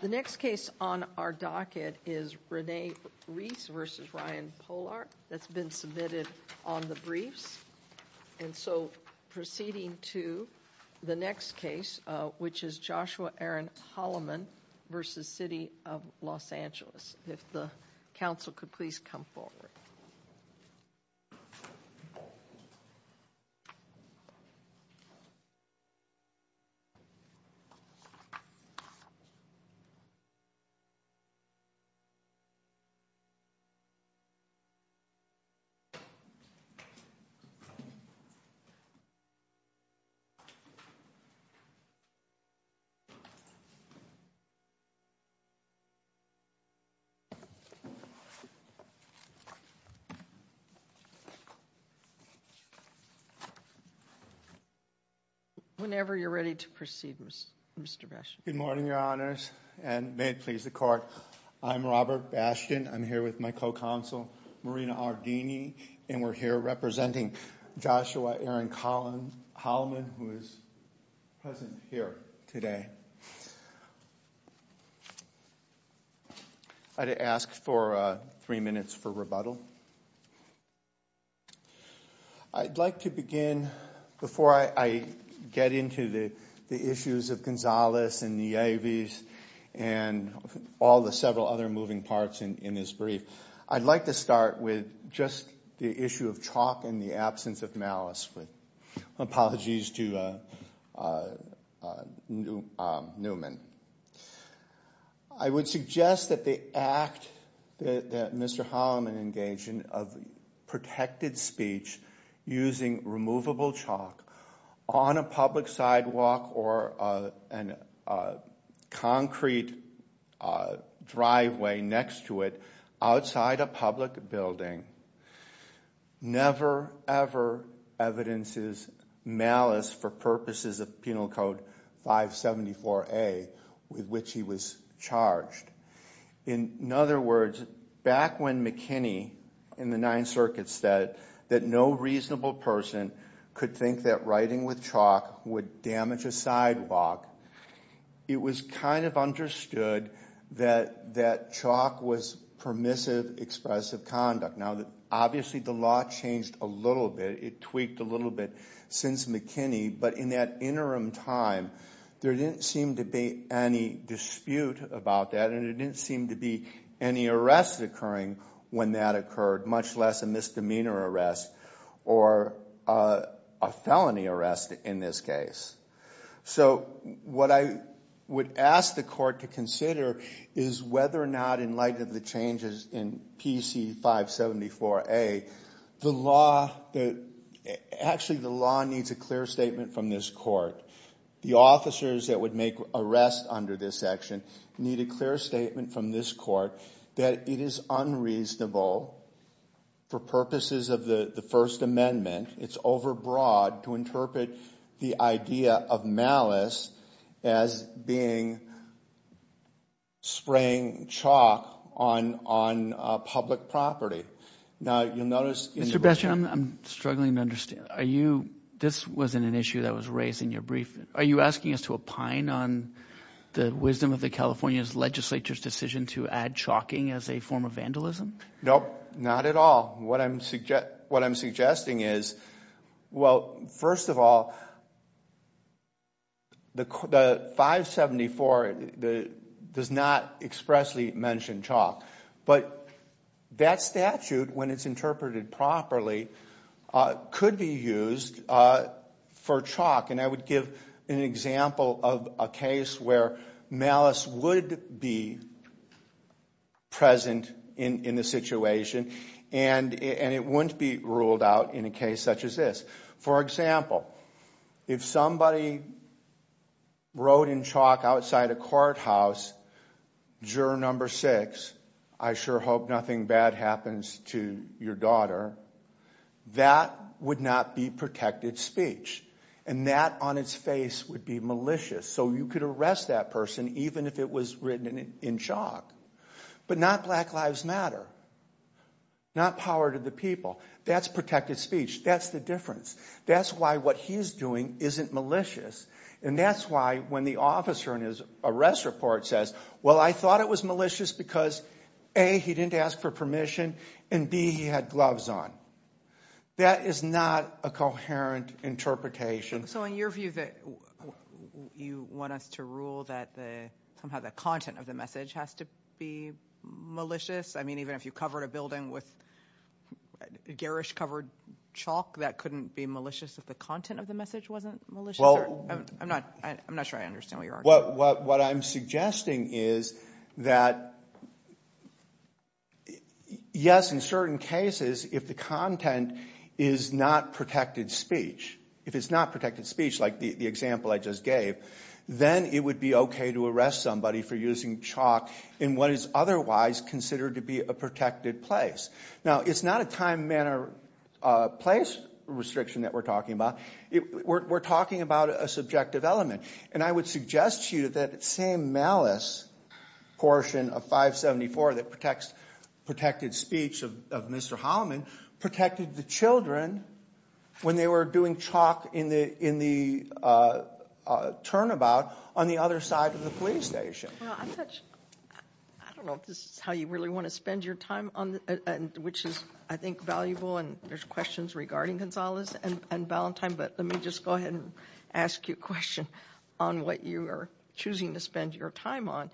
The next case on our docket is Renee Reese v. Ryan Pollard that's been submitted on the briefs and so proceeding to the next case which is Joshua Aaron Holloman v. City of Los Angeles. If the council could please come forward. Whenever you're ready to proceed, Mr. Beshear. Good morning, your honors and may it please the court. I'm Robert Bastian. I'm here with my co-counsel Marina Ardini and we're here representing Joshua Aaron Holloman who is present here today. I'd ask for three minutes for rebuttal. I'd like to begin before I get into the issues of Salas and Nieves and all the several other moving parts in his brief. I'd like to start with just the issue of chalk and the absence of malice. Apologies to Newman. I would suggest that the act that Mr. Holloman engaged in of protected speech using removable chalk on a public sidewalk or a concrete driveway next to it outside a public building never ever evidences malice for purposes of Penal Code 574A with which he was charged. In other words, back when McKinney in the Ninth Amendment could think that writing with chalk would damage a sidewalk, it was kind of understood that chalk was permissive expressive conduct. Now obviously the law changed a little bit. It tweaked a little bit since McKinney, but in that interim time there didn't seem to be any dispute about that and it didn't seem to be any arrests occurring when that occurred much less a misdemeanor arrest or a felony arrest in this case. So what I would ask the court to consider is whether or not in light of the changes in PC 574A the law, actually the law needs a clear statement from this court. The officers that would make arrests under this action need a clear statement from this court that it is unreasonable for purposes of the First Amendment, it's overbroad, to interpret the idea of malice as being spraying chalk on public property. Now you'll notice in the report... Mr. Bestian, I'm struggling to understand. Are you, this wasn't an issue that was raised in your brief, are you asking us to opine on the wisdom of the California Legislature's decision to add chalking as a form of vandalism? Nope, not at all. What I'm suggesting is, well, first of all, the 574 does not expressly mention chalk, but that statute when it's interpreted properly could be used for chalk and I would give an example of a case where malice would be present in the situation and it wouldn't be ruled out in a case such as this. For example, if somebody wrote in chalk outside a courthouse, juror number six, I sure hope nothing bad happens to your daughter, that would not be protected speech and that on its face would be malicious, so you could arrest that person even if it was written in chalk. But not Black Lives Matter, not power to the people, that's protected speech, that's the difference. That's why what he's doing isn't malicious and that's why when the officer in his arrest report says, well, I thought it was malicious because A, he didn't ask for permission and B, he had gloves on. That is not a coherent interpretation. So in your view, you want us to rule that somehow the content of the message has to be malicious? I mean, even if you covered a building with garish covered chalk, that couldn't be malicious if the content of the message wasn't malicious? I'm not sure I understand what you're arguing. What I'm suggesting is that yes, in certain cases, if the content is not protected speech, if it's not protected speech like the example I just gave, then it would be okay to arrest somebody for using chalk in what is otherwise considered to be a protected place. Now, it's not a time, manner, place restriction that we're talking about. We're talking about a subjective element. And I would suggest to you that same malice portion of 574 that protected speech of Mr. Holloman protected the children when they were doing chalk in the turnabout on the other side of the police station. I don't know if this is how you really want to spend your time, which is, I think, valuable and there's questions regarding Gonzalez and Ballantyne, but let me just go ahead and ask you a question on what you are choosing to spend your time on.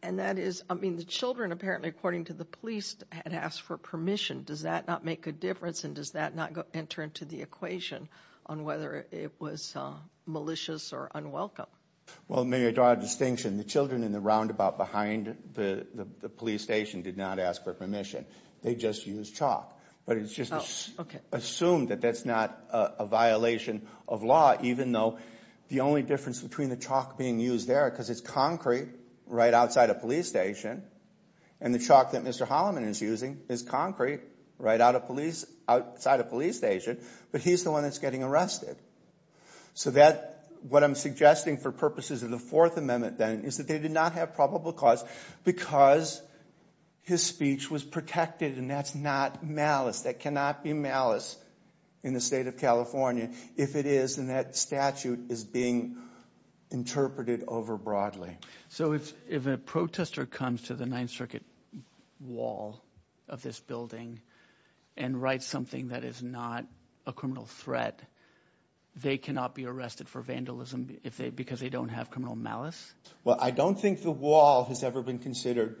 And that is, I mean, the children apparently, according to the police, had asked for permission. Does that not make a difference and does that not enter into the equation on whether it was malicious or unwelcome? Well, maybe I draw a distinction. The children in the roundabout behind the police station did not ask for permission. They just used chalk. But it's just assumed that that's not a violation of law, even though the only difference between the chalk being used there, because it's concrete right outside a police station, and the chalk that Mr. Holloman is using is concrete right outside a police station, but he's the one that's getting arrested. So what I'm suggesting for purposes of the Fourth Amendment, then, is that they did not have probable cause because his speech was protected and that's not malice. That cannot be malice in the state of California if it is, and that statute is being interpreted over broadly. So if a protester comes to the Ninth Circuit wall of this building and writes something that is not a criminal threat, they cannot be arrested for vandalism because they don't have criminal malice? Well, I don't think the wall has ever been considered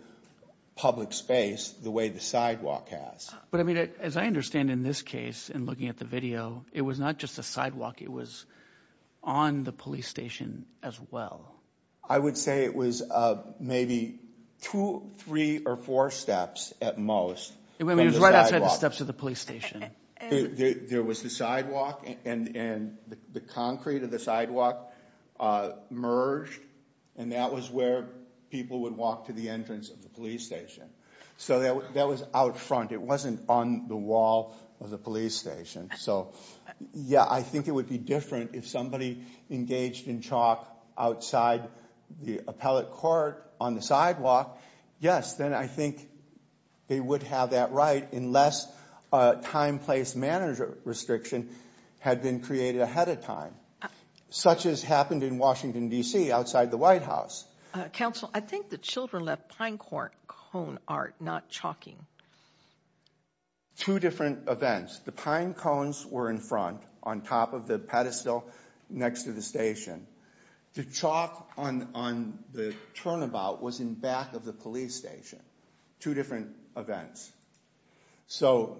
public space the way the sidewalk has. But I mean, as I understand in this case, and looking at the video, it was not just a sidewalk. It was on the police station as well. I would say it was maybe two, three, or four steps at most. I mean, it was right outside the steps of the police station. There was the sidewalk and the concrete of the sidewalk merged, and that was where people would walk to the entrance of the police station. So that was out front. It wasn't on the wall of the police station. So, yeah, I think it would be different if somebody engaged in chalk outside the appellate court on the sidewalk. Yes, then I think they would have that right unless a time-place manager restriction had been created ahead of time, such as happened in Washington, D.C., outside the White House. Counsel, I think the children left pine cone art, not chalking. Two different events. The pine cones were in front, on top of the pedestal next to the station. The chalk on the turnabout was in back of the police station. Two different events. So,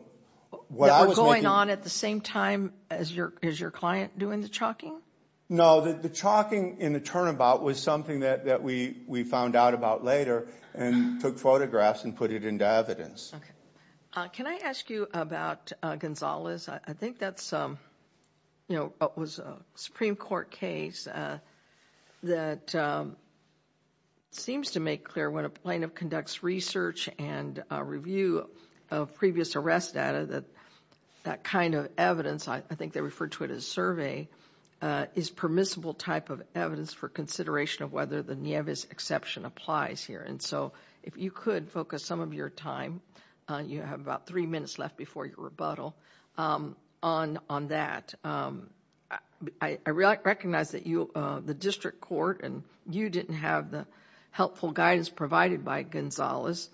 what I was making... That were going on at the same time as your client doing the chalking? No, the chalking in the turnabout was something that we found out about later and took photographs and put it into evidence. Can I ask you about Gonzalez? I think that was a Supreme Court case that seems to make clear when a plaintiff conducts research and review of previous arrest data that that kind of evidence, I think they refer to it as survey, is permissible type of evidence for consideration of whether the Nieves exception applies here. And so, if you could focus some of your time, you have about three minutes left before your rebuttal, on that. I recognize that the district court and you didn't have the helpful guidance provided by Gonzalez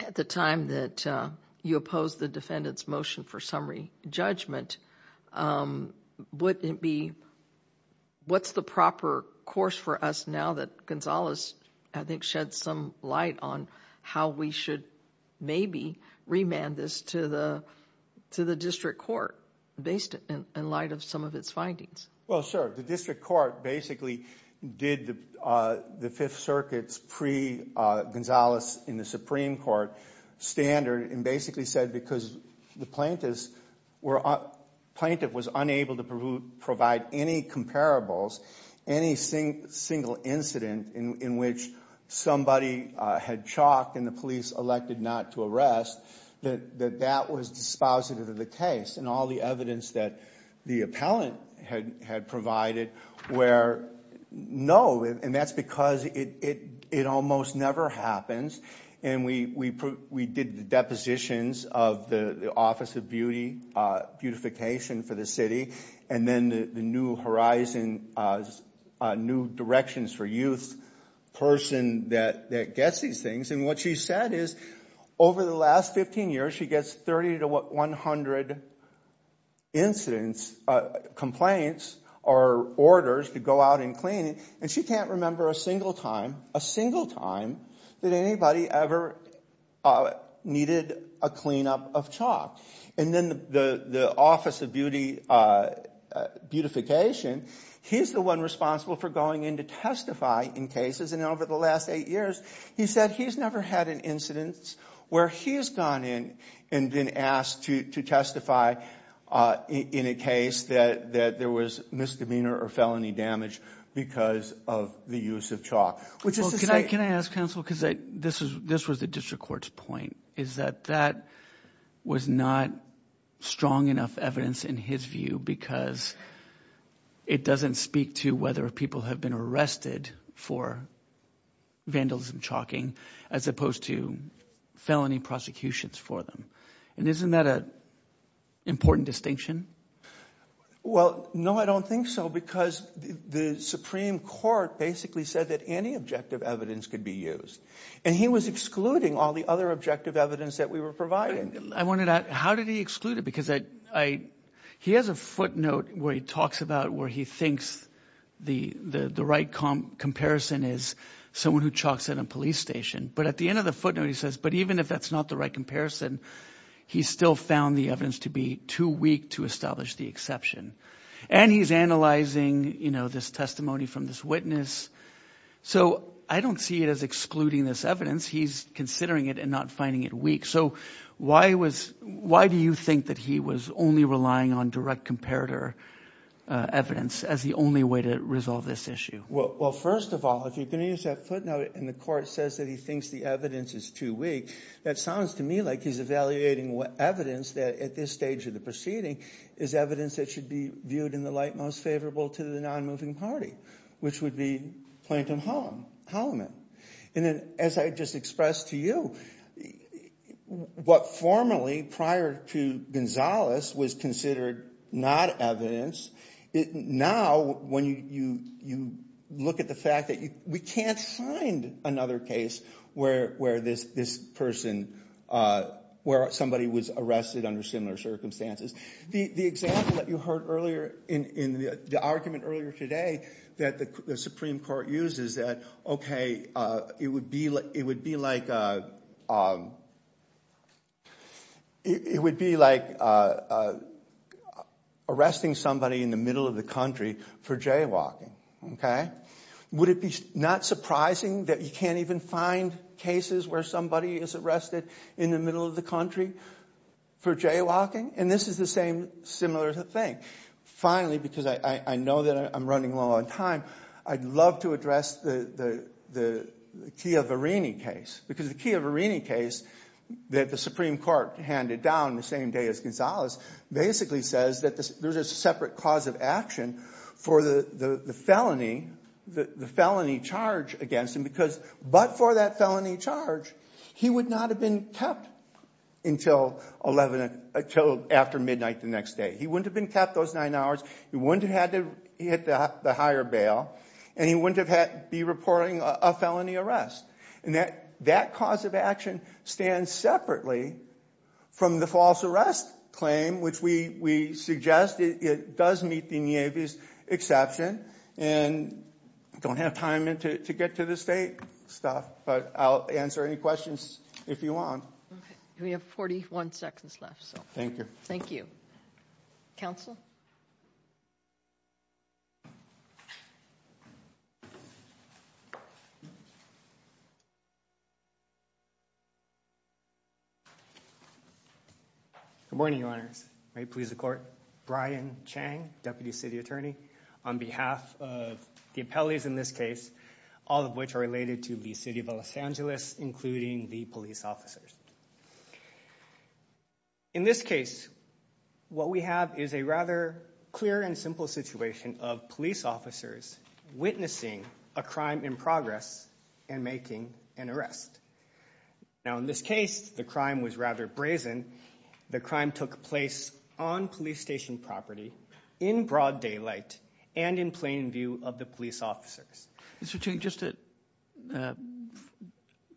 at the time that you opposed the defendant's motion for summary judgment. Would it be... What's the proper course for us now that Gonzalez, I think, shed some light on how we should maybe remand this to the district court based in light of some of its findings? Well, sure. The district court basically did the Fifth Circuit's pre-Gonzalez in the Supreme Court standard and basically said because the plaintiff was unable to provide any comparables, any single incident in which somebody had chalked and the police elected not to arrest, that that was dispositive of the case. And all the evidence that the appellant had provided were no. And that's because it almost never happens. And we did the depositions of the Office of Beautification for the city. And then the New Horizons, New Directions for Youth person that gets these things. And what she said is over the last 15 years, she gets 30 to 100 incidents, complaints or orders to go out and clean. And she can't remember a single time, a single time that anybody ever needed a cleanup of And then the Office of Beautification, he's the one responsible for going in to testify in cases. And over the last eight years, he said he's never had an incidence where he's gone in and been asked to testify in a case that there was misdemeanor or felony damage because of the use of chalk. Well, can I ask counsel, because this was the district court's point, is that that was not strong enough evidence in his view because it doesn't speak to whether people have been for vandalism, chalking as opposed to felony prosecutions for them. And isn't that an important distinction? Well, no, I don't think so, because the Supreme Court basically said that any objective evidence could be used. And he was excluding all the other objective evidence that we were providing. I wondered how did he exclude it? Because he has a footnote where he talks about where he thinks the right comparison is someone who chalks in a police station. But at the end of the footnote, he says, but even if that's not the right comparison, he still found the evidence to be too weak to establish the exception. And he's analyzing this testimony from this witness. So I don't see it as excluding this evidence. He's considering it and not finding it weak. So why do you think that he was only relying on direct comparator evidence as the only way to resolve this issue? Well, first of all, if you're going to use that footnote and the court says that he thinks the evidence is too weak, that sounds to me like he's evaluating what evidence that at this stage of the proceeding is evidence that should be viewed in the light most favorable to the non-moving party, which would be Plaintiff Holloman. And then as I just expressed to you, what formerly prior to Gonzalez was considered not evidence, now when you look at the fact that we can't find another case where somebody was arrested under similar circumstances. The example that you heard earlier in the argument earlier today that the Supreme Court used is that, okay, it would be like arresting somebody in the middle of the country for jaywalking. Would it be not surprising that you can't even find cases where somebody is arrested in the middle of the country for jaywalking? And this is the same similar thing. Finally, because I know that I'm running low on time, I'd love to address the Chia Varini case. Because the Chia Varini case that the Supreme Court handed down the same day as Gonzalez basically says that there's a separate cause of action for the felony charge against him because but for that felony charge, he would not have been kept until after midnight the next day. He wouldn't have been kept those nine hours. He wouldn't have had to hit the higher bail. And he wouldn't have had to be reporting a felony arrest. And that cause of action stands separately from the false arrest claim, which we suggest it does meet the Nieve's exception. And I don't have time to get to the state stuff. But I'll answer any questions if you want. Okay. We have 41 seconds left. Thank you. Thank you. Counsel? Good morning, Your Honors. May it please the Court. Brian Chang, Deputy City Attorney, on behalf of the appellees in this case, all of which are related to the City of Los Angeles, including the police officers. In this case, what we have is a rather clear and simple situation of police officers witnessing a crime in progress and making an arrest. Now, in this case, the crime was rather brazen. The crime took place on police station property, in broad daylight, and in plain view of the police officers. Mr. Chang, just to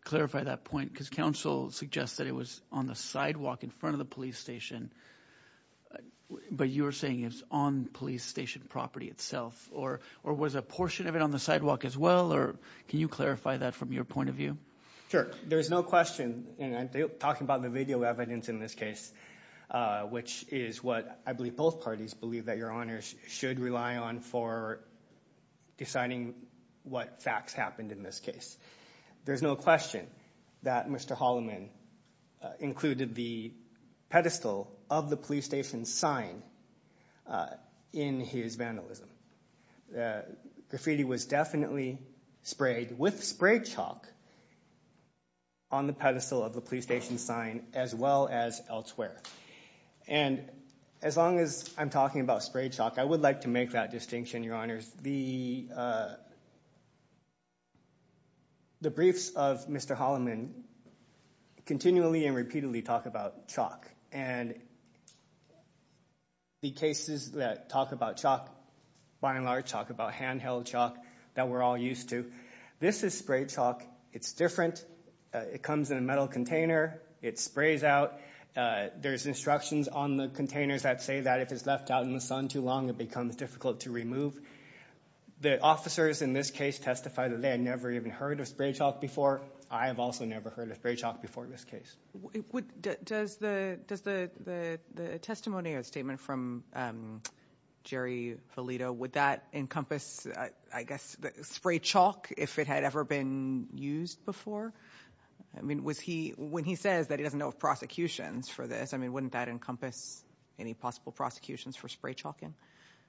clarify that point, because counsel suggested that the police officers were on the sidewalk in front of the police station, but you're saying it's on police station property itself. Or was a portion of it on the sidewalk as well? Or can you clarify that from your point of view? Sure. There's no question, and I'm talking about the video evidence in this case, which is what I believe both parties believe that Your Honors should rely on for deciding what facts happened in this case. There's no question that Mr. Holloman included the pedestal of the police station sign in his vandalism. Graffiti was definitely sprayed with spray chalk on the pedestal of the police station sign, as well as elsewhere. And as long as I'm talking about spray chalk, I would like to make that distinction, Your Honors. The briefs of Mr. Holloman continually and repeatedly talk about chalk. And the cases that talk about chalk, by and large, talk about handheld chalk that we're all used to. This is spray chalk. It's different. It comes in a metal container. It sprays out. There's instructions on the containers that say that if it's left out in the sun too long, it becomes difficult to remove. The officers in this case testified that they had never even heard of spray chalk before. I have also never heard of spray chalk before in this case. Does the testimony or statement from Jerry Valido, would that encompass, I guess, spray chalk if it had ever been used before? I mean, when he says that he doesn't know of prosecutions for this, I mean, wouldn't that encompass any possible prosecutions for spray chalking?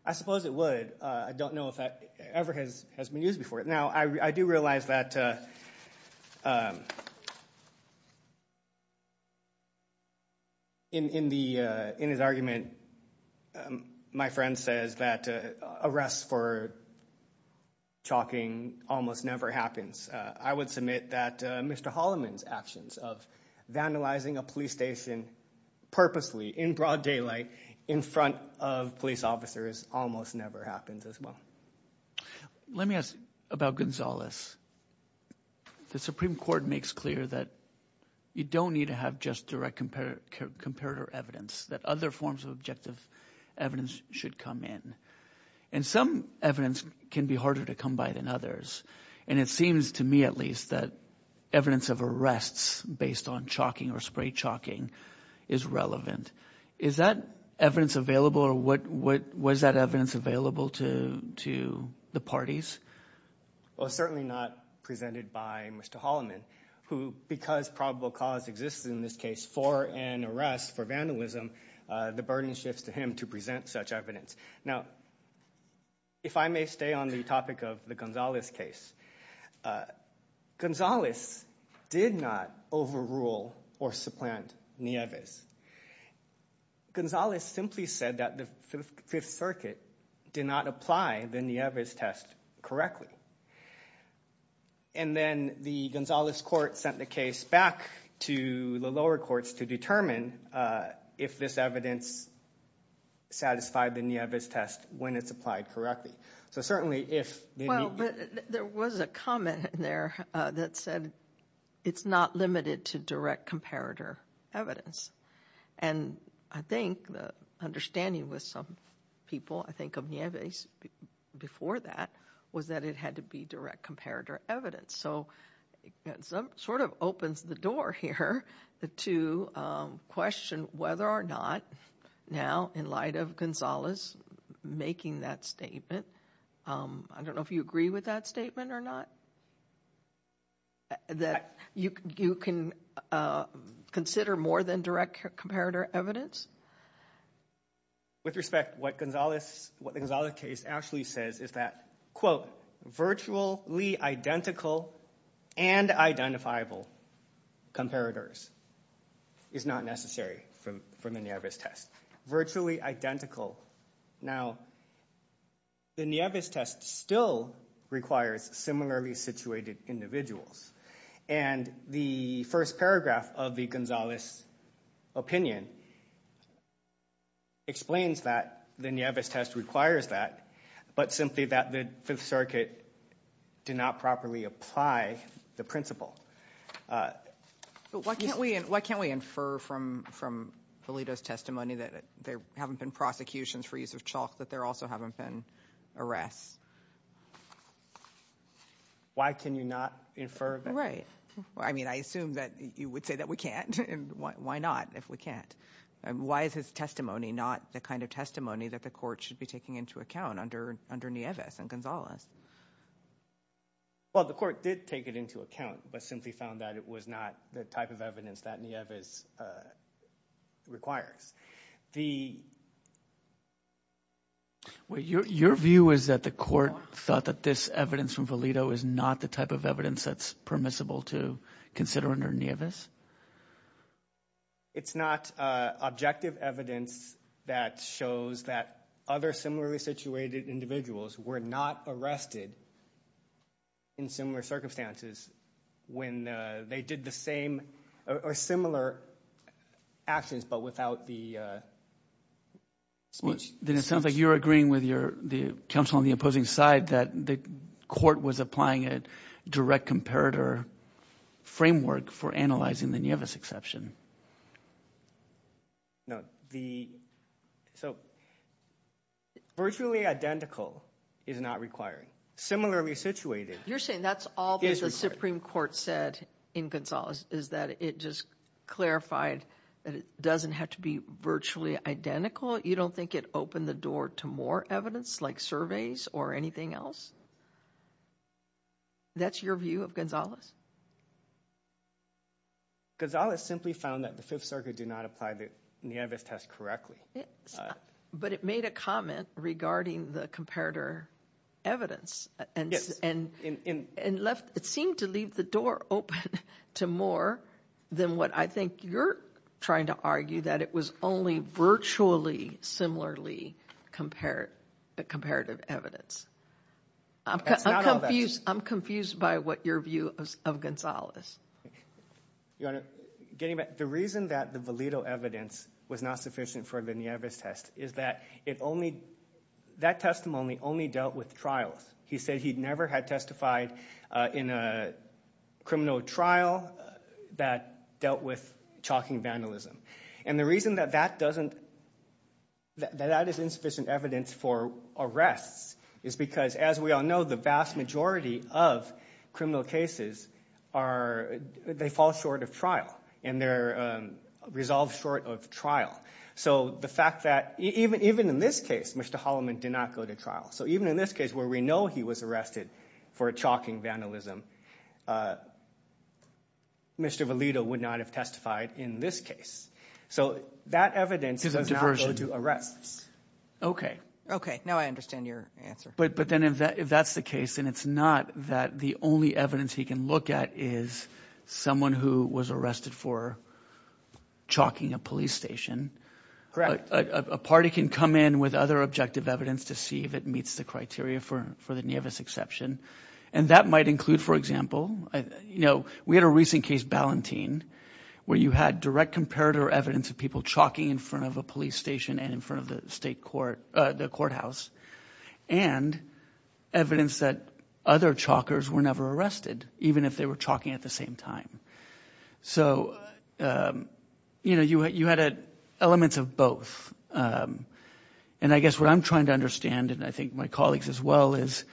I suppose it would. I don't know if that ever has been used before. Now, I do realize that in his argument, my friend says that arrests for chalking almost never happens. I would submit that Mr. Holloman's actions of vandalizing a police station purposely in broad daylight in front of police officers almost never happens as well. Let me ask about Gonzalez. The Supreme Court makes clear that you don't need to have just direct comparator evidence, that other forms of objective evidence should come in. And some evidence can be harder to come by than others. And it seems to me, at least, that evidence of arrests based on chalking or spray chalking is relevant. Is that evidence available or was that evidence available to the parties? Well, certainly not presented by Mr. Holloman, who, because probable cause exists in this case for an arrest for vandalism, the burden shifts to him to present such evidence. Now, if I may stay on the topic of the Gonzalez case, Gonzalez did not overrule or supplant Nieves. Gonzalez simply said that the Fifth Circuit did not apply the Nieves test correctly. And then the Gonzalez court sent the case back to the lower courts to determine if this evidence satisfied the Nieves test when it's applied correctly. So certainly if- There was a comment in there that said it's not limited to direct comparator evidence. And I think the understanding with some people, I think, of Nieves before that was that it had to be direct comparator evidence. So it sort of opens the door here to question whether or not now, in light of Gonzalez making that statement, I don't know if you agree with that statement or not, that you can consider more than direct comparator evidence? With respect, what the Gonzalez case actually says is that, quote, virtually identical and identifiable comparators is not necessary for the Nieves test. Virtually identical. Now, the Nieves test still requires similarly situated individuals. And the first paragraph of the Gonzalez opinion explains that the Nieves test requires that, but simply that the Fifth Circuit did not properly apply the principle. But why can't we infer from Valido's testimony that there haven't been prosecutions for use of chalk, that there also haven't been arrests? Why can you not infer that? Right. I mean, I assume that you would say that we can't. Why not, if we can't? Why is his testimony not the kind of testimony that the court should be taking into account under Nieves and Gonzalez? Well, the court did take it into account, but simply found that it was not the type of evidence that Nieves requires. Well, your view is that the court thought that this evidence from Valido is not the type of evidence that's permissible to consider under Nieves? It's not objective evidence that shows that other similarly situated individuals were not arrested in similar circumstances when they did the same or similar actions, but without the speech. Then it sounds like you're agreeing with the counsel on the opposing side that the court was applying a direct comparator framework for analyzing the Nieves exception. No, so virtually identical is not required. Similarly situated is required. You're saying that's all that the Supreme Court said in Gonzalez, is that it just clarified that it doesn't have to be virtually identical? You don't think it opened the door to more evidence like surveys or anything else? That's your view of Gonzalez? Gonzalez simply found that the Fifth Circuit did not apply the Nieves test correctly. But it made a comment regarding the comparator evidence and left, it seemed to leave the door open to more than what I think you're trying to argue, that it was only virtually similarly comparative evidence. I'm confused by what your view of Gonzalez is. Your Honor, the reason that the Valido evidence was not sufficient for the Nieves test is that it only, that testimony only dealt with trials. He said he'd never had testified in a criminal trial that dealt with chalking vandalism. And the reason that that doesn't, that that is insufficient evidence for arrests is because as we all know, the vast majority of criminal cases are, they fall short of trial. And they're resolved short of trial. So the fact that, even in this case, Mr. Holloman did not go to trial. So even in this case where we know he was arrested for chalking vandalism, Mr. Valido would not have testified in this case. So that evidence does not go to arrests. Okay. Okay. Now I understand your answer. But then if that's the case, then it's not that the only evidence he can look at is someone who was arrested for chalking a police station. Correct. A party can come in with other objective evidence to see if it meets the criteria for the Nieves exception. And that might include, for example, you know, we had a recent case, Ballantine, where you had direct comparative evidence of people chalking in front of a police station and in front of the state court, the courthouse. And evidence that other chalkers were never arrested, even if they were chalking at the same time. So, you know, you had elements of both. And I guess what I'm trying to understand, and I think my colleagues as well, is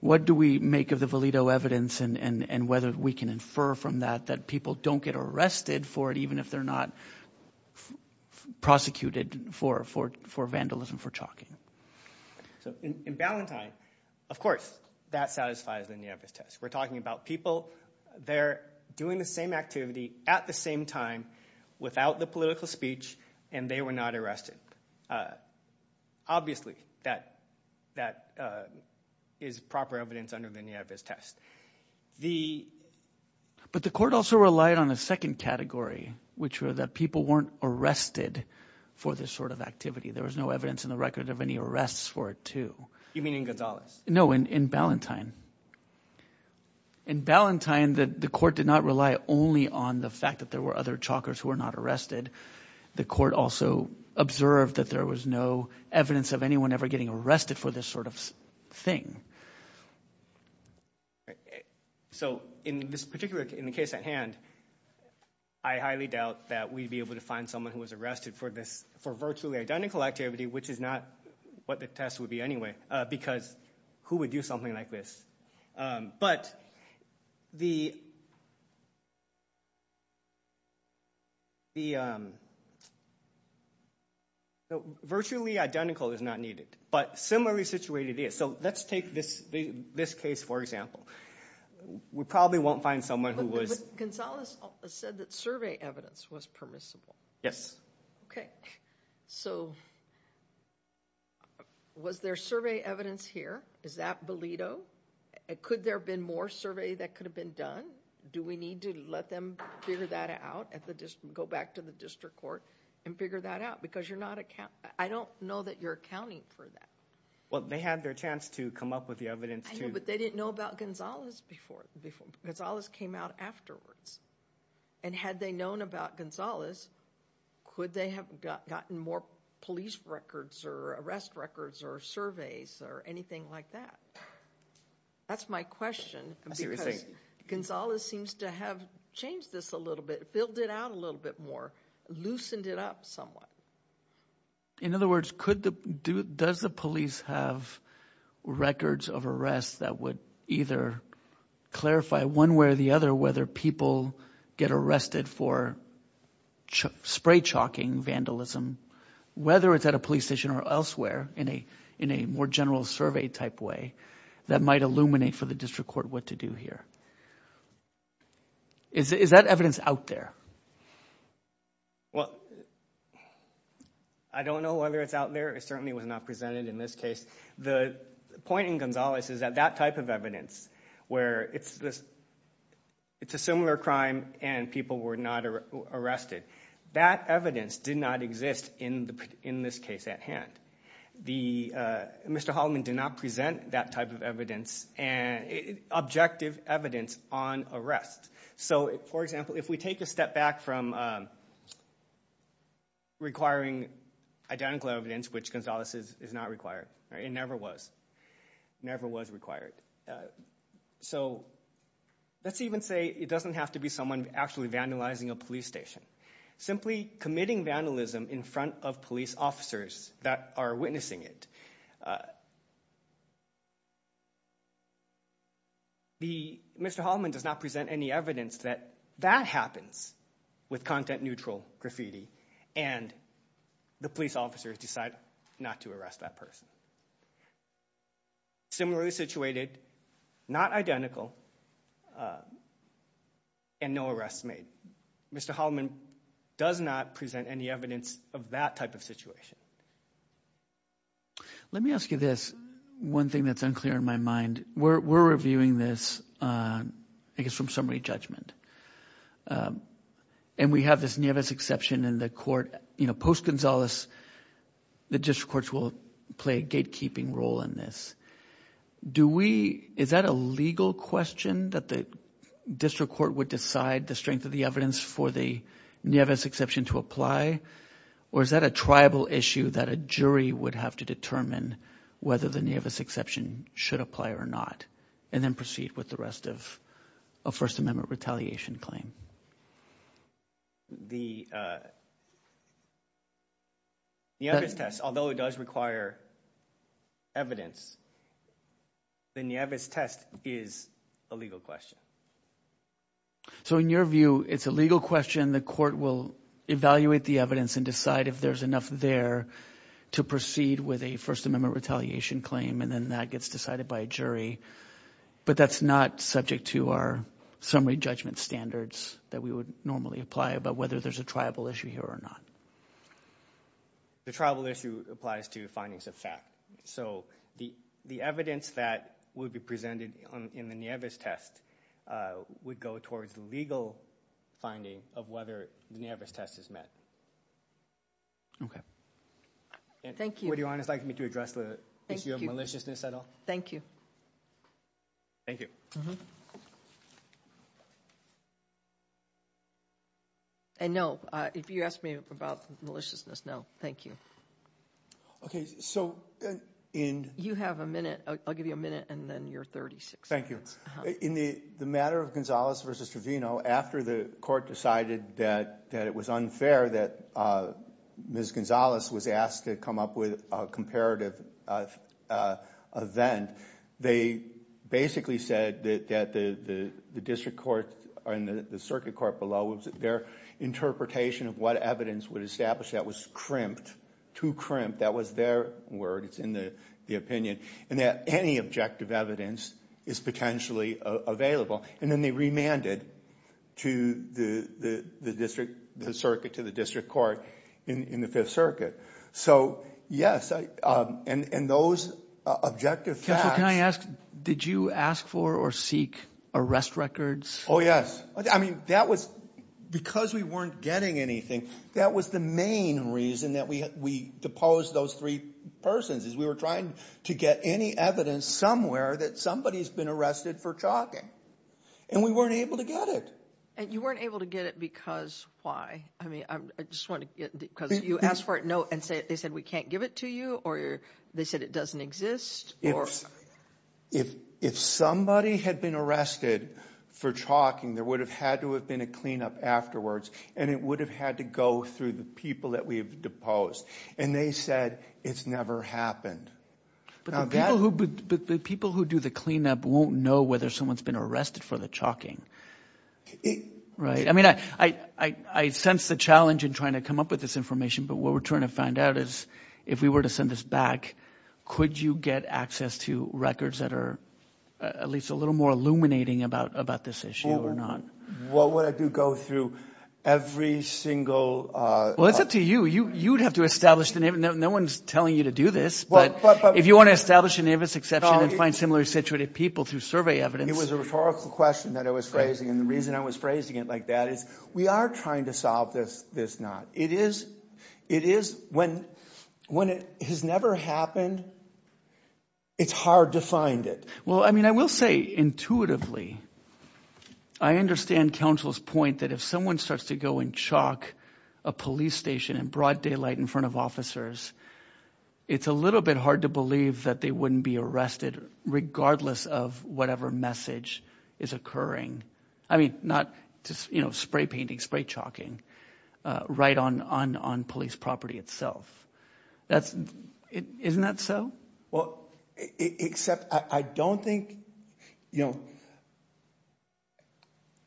what do we make of the Valido evidence and whether we can infer from that that people don't get arrested for it, even if they're not prosecuted for vandalism, for chalking. So in Ballantine, of course, that satisfies the Nieves test. We're talking about people there doing the same activity at the same time without the political speech, and they were not arrested. Obviously, that is proper evidence under the Nieves test. But the court also relied on a second category, which were that people weren't arrested for this sort of activity. There was no evidence in the record of any arrests for it, too. You mean in Gonzalez? No, in Ballantine. In Ballantine, the court did not rely only on the fact that there were other chalkers who were not arrested. The court also observed that there was no evidence of anyone ever getting arrested for this sort of thing. So in this particular case at hand, I highly doubt that we'd be able to find someone who was arrested for virtually identical activity, which is not what the test would be anyway, because who would do something like this? Virtually identical is not needed, but similarly situated is. So let's take this case, for example. We probably won't find someone who was- But Gonzalez said that survey evidence was permissible. Yes. Okay. So was there survey evidence here? Is that Valido? Could there have been more survey that could have been done? Do we need to let them figure that out, go back to the district court and figure that out? Because I don't know that you're accounting for that. Well, they had their chance to come up with the evidence, too. But they didn't know about Gonzalez before. Gonzalez came out afterwards. And had they known about Gonzalez, could they have gotten more police records or arrest records or surveys or anything like that? That's my question, because Gonzalez seems to have changed this a little bit, filled it out a little bit more, loosened it up somewhat. In other words, does the police have records of arrests that would either clarify one way or the other whether people get arrested for spray chalking vandalism, whether it's at a police station or elsewhere in a more general survey type way that might illuminate for the district court what to do here? Is that evidence out there? Well, I don't know whether it's out there. It certainly was not presented in this case. The point in Gonzalez is that that type of evidence where it's a similar crime and people were not arrested, that evidence did not exist in this case at hand. Mr. Holloman did not present that type of evidence, objective evidence on arrest. So for example, if we take a step back from requiring identical evidence, which Gonzalez is not required, it never was, never was required. So let's even say it doesn't have to be someone actually vandalizing a police station. Simply committing vandalism in front of police officers that are witnessing it, Mr. Holloman does not present any evidence that that happens with content-neutral graffiti and the police officers decide not to arrest that person. Similarly situated, not identical, and no arrests made. Mr. Holloman does not present any evidence of that type of situation. Let me ask you this. One thing that's unclear in my mind, we're reviewing this, I guess, from summary judgment. And we have this Nevis exception in the court. You know, post-Gonzalez, the district courts will play a gatekeeping role in this. Do we, is that a legal question that the district court would decide the strength of the evidence for the Nevis exception to apply? Or is that a tribal issue that a jury would have to determine whether the Nevis exception should apply or not, and then proceed with the rest of a First Amendment retaliation claim? The Nevis test, although it does require evidence, the Nevis test is a legal question. So in your view, it's a legal question, the court will evaluate the evidence and decide if there's enough there to proceed with a First Amendment retaliation claim, and then that gets decided by a jury. But that's not subject to our summary judgment standards that we would normally apply about whether there's a tribal issue here or not. The tribal issue applies to findings of fact. So the evidence that would be presented in the Nevis test would go towards the legal finding of whether the Nevis test is met. Okay. And would Your Honor like me to address the issue of maliciousness at all? Thank you. Thank you. And no, if you ask me about maliciousness, no, thank you. Okay, so in- You have a minute, I'll give you a minute, and then you're 36. Thank you. In the matter of Gonzalez versus Trevino, after the court decided that it was unfair that Ms. Gonzalez was asked to come up with a comparative event, they basically said that the district court and the circuit court below, their interpretation of what evidence would establish that was crimped, too crimped, that was their word, it's in the opinion, and that any objective evidence is potentially available. And then they remanded to the district, the circuit, to the district court in the Fifth Circuit. So, yes, and those objective facts- Counsel, can I ask, did you ask for or seek arrest records? Oh, yes. I mean, that was, because we weren't getting anything, that was the main reason that we deposed those three persons, is we were trying to get any evidence somewhere that somebody's been arrested for talking. And we weren't able to get it. And you weren't able to get it because, why? I mean, I just want to get, because you asked for it, no, and they said, we can't give it to you, or they said it doesn't exist, or- If somebody had been arrested for talking, there would have had to have been a cleanup afterwards, and it would have had to go through the people that we've deposed. And they said, it's never happened. But the people who do the cleanup won't know whether someone's been arrested for the talking, right? I mean, I sense the challenge in trying to come up with this information, but what we're trying to find out is, if we were to send this back, could you get access to records that are at least a little more illuminating about this issue or not? What would I do? Go through every single- Well, it's up to you. You would have to establish the name. No one's telling you to do this, but if you want to establish the name of this exception and find similarly situated people through survey evidence- It was a rhetorical question that I was phrasing, and the reason I was phrasing it like that is, we are trying to solve this knot. It is, when it has never happened, it's hard to find it. Well, I mean, I will say, intuitively, I understand counsel's point that if someone starts to go and chalk a police station in broad daylight in front of officers, it's a little bit hard to believe that they wouldn't be arrested regardless of whatever message is occurring. I mean, not just spray painting, spray chalking, right on police property itself. Isn't that so? Well, except I don't think there's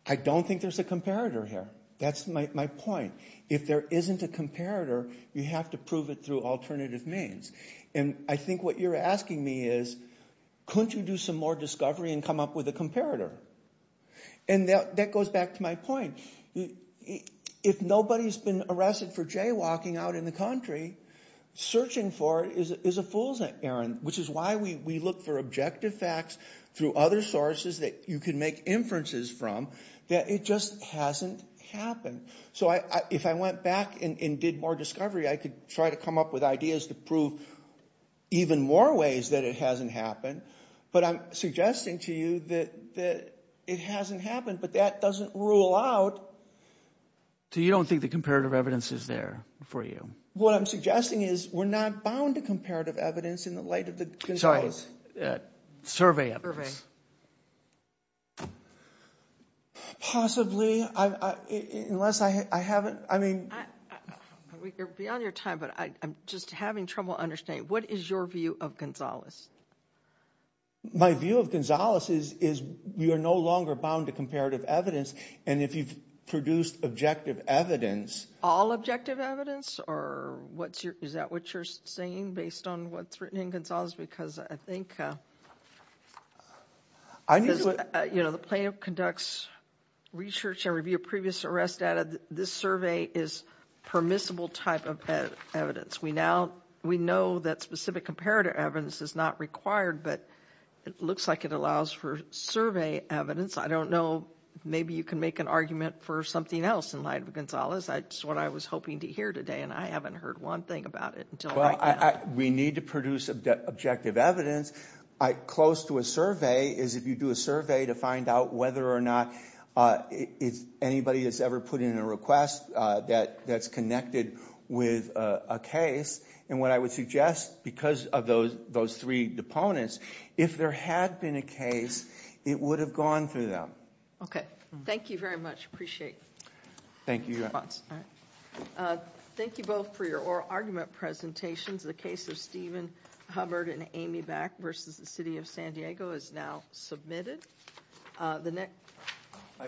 a comparator here. That's my point. If there isn't a comparator, you have to prove it through alternative means. And I think what you're asking me is, couldn't you do some more discovery and come up with a comparator? And that goes back to my point. If nobody's been arrested for jaywalking out in the country, searching for it is a fool's errand, which is why we look for objective facts through other sources that you can make inferences from that it just hasn't happened. So if I went back and did more discovery, I could try to come up with ideas to prove even more ways that it hasn't happened. But I'm suggesting to you that it hasn't happened, but that doesn't rule out. So you don't think the comparative evidence is there for you? What I'm suggesting is we're not bound to comparative evidence in the light of the controls. Sorry, survey evidence. Possibly, unless I haven't, I mean... We're beyond your time, but I'm just having trouble understanding. What is your view of Gonzales? My view of Gonzales is we are no longer bound to comparative evidence. And if you've produced objective evidence... All objective evidence? Or is that what you're saying based on what's written in Gonzales? Because I think, you know, the plaintiff conducts research and review of previous arrest data. This survey is permissible type of evidence. We know that specific comparative evidence is not required, but it looks like it allows for survey evidence. I don't know. Maybe you can make an argument for something else in light of Gonzales. That's what I was hoping to hear today, and I haven't heard one thing about it until right now. We need to produce objective evidence. Close to a survey is if you do a survey to find out whether or not anybody has ever put in a request that's connected with a case. And what I would suggest, because of those three opponents, if there had been a case, it would have gone through them. Okay. Thank you very much. Appreciate your response. Thank you both for your oral argument presentations. The case of Stephen Hubbard and Amy Back versus the City of San Diego is now submitted. The next-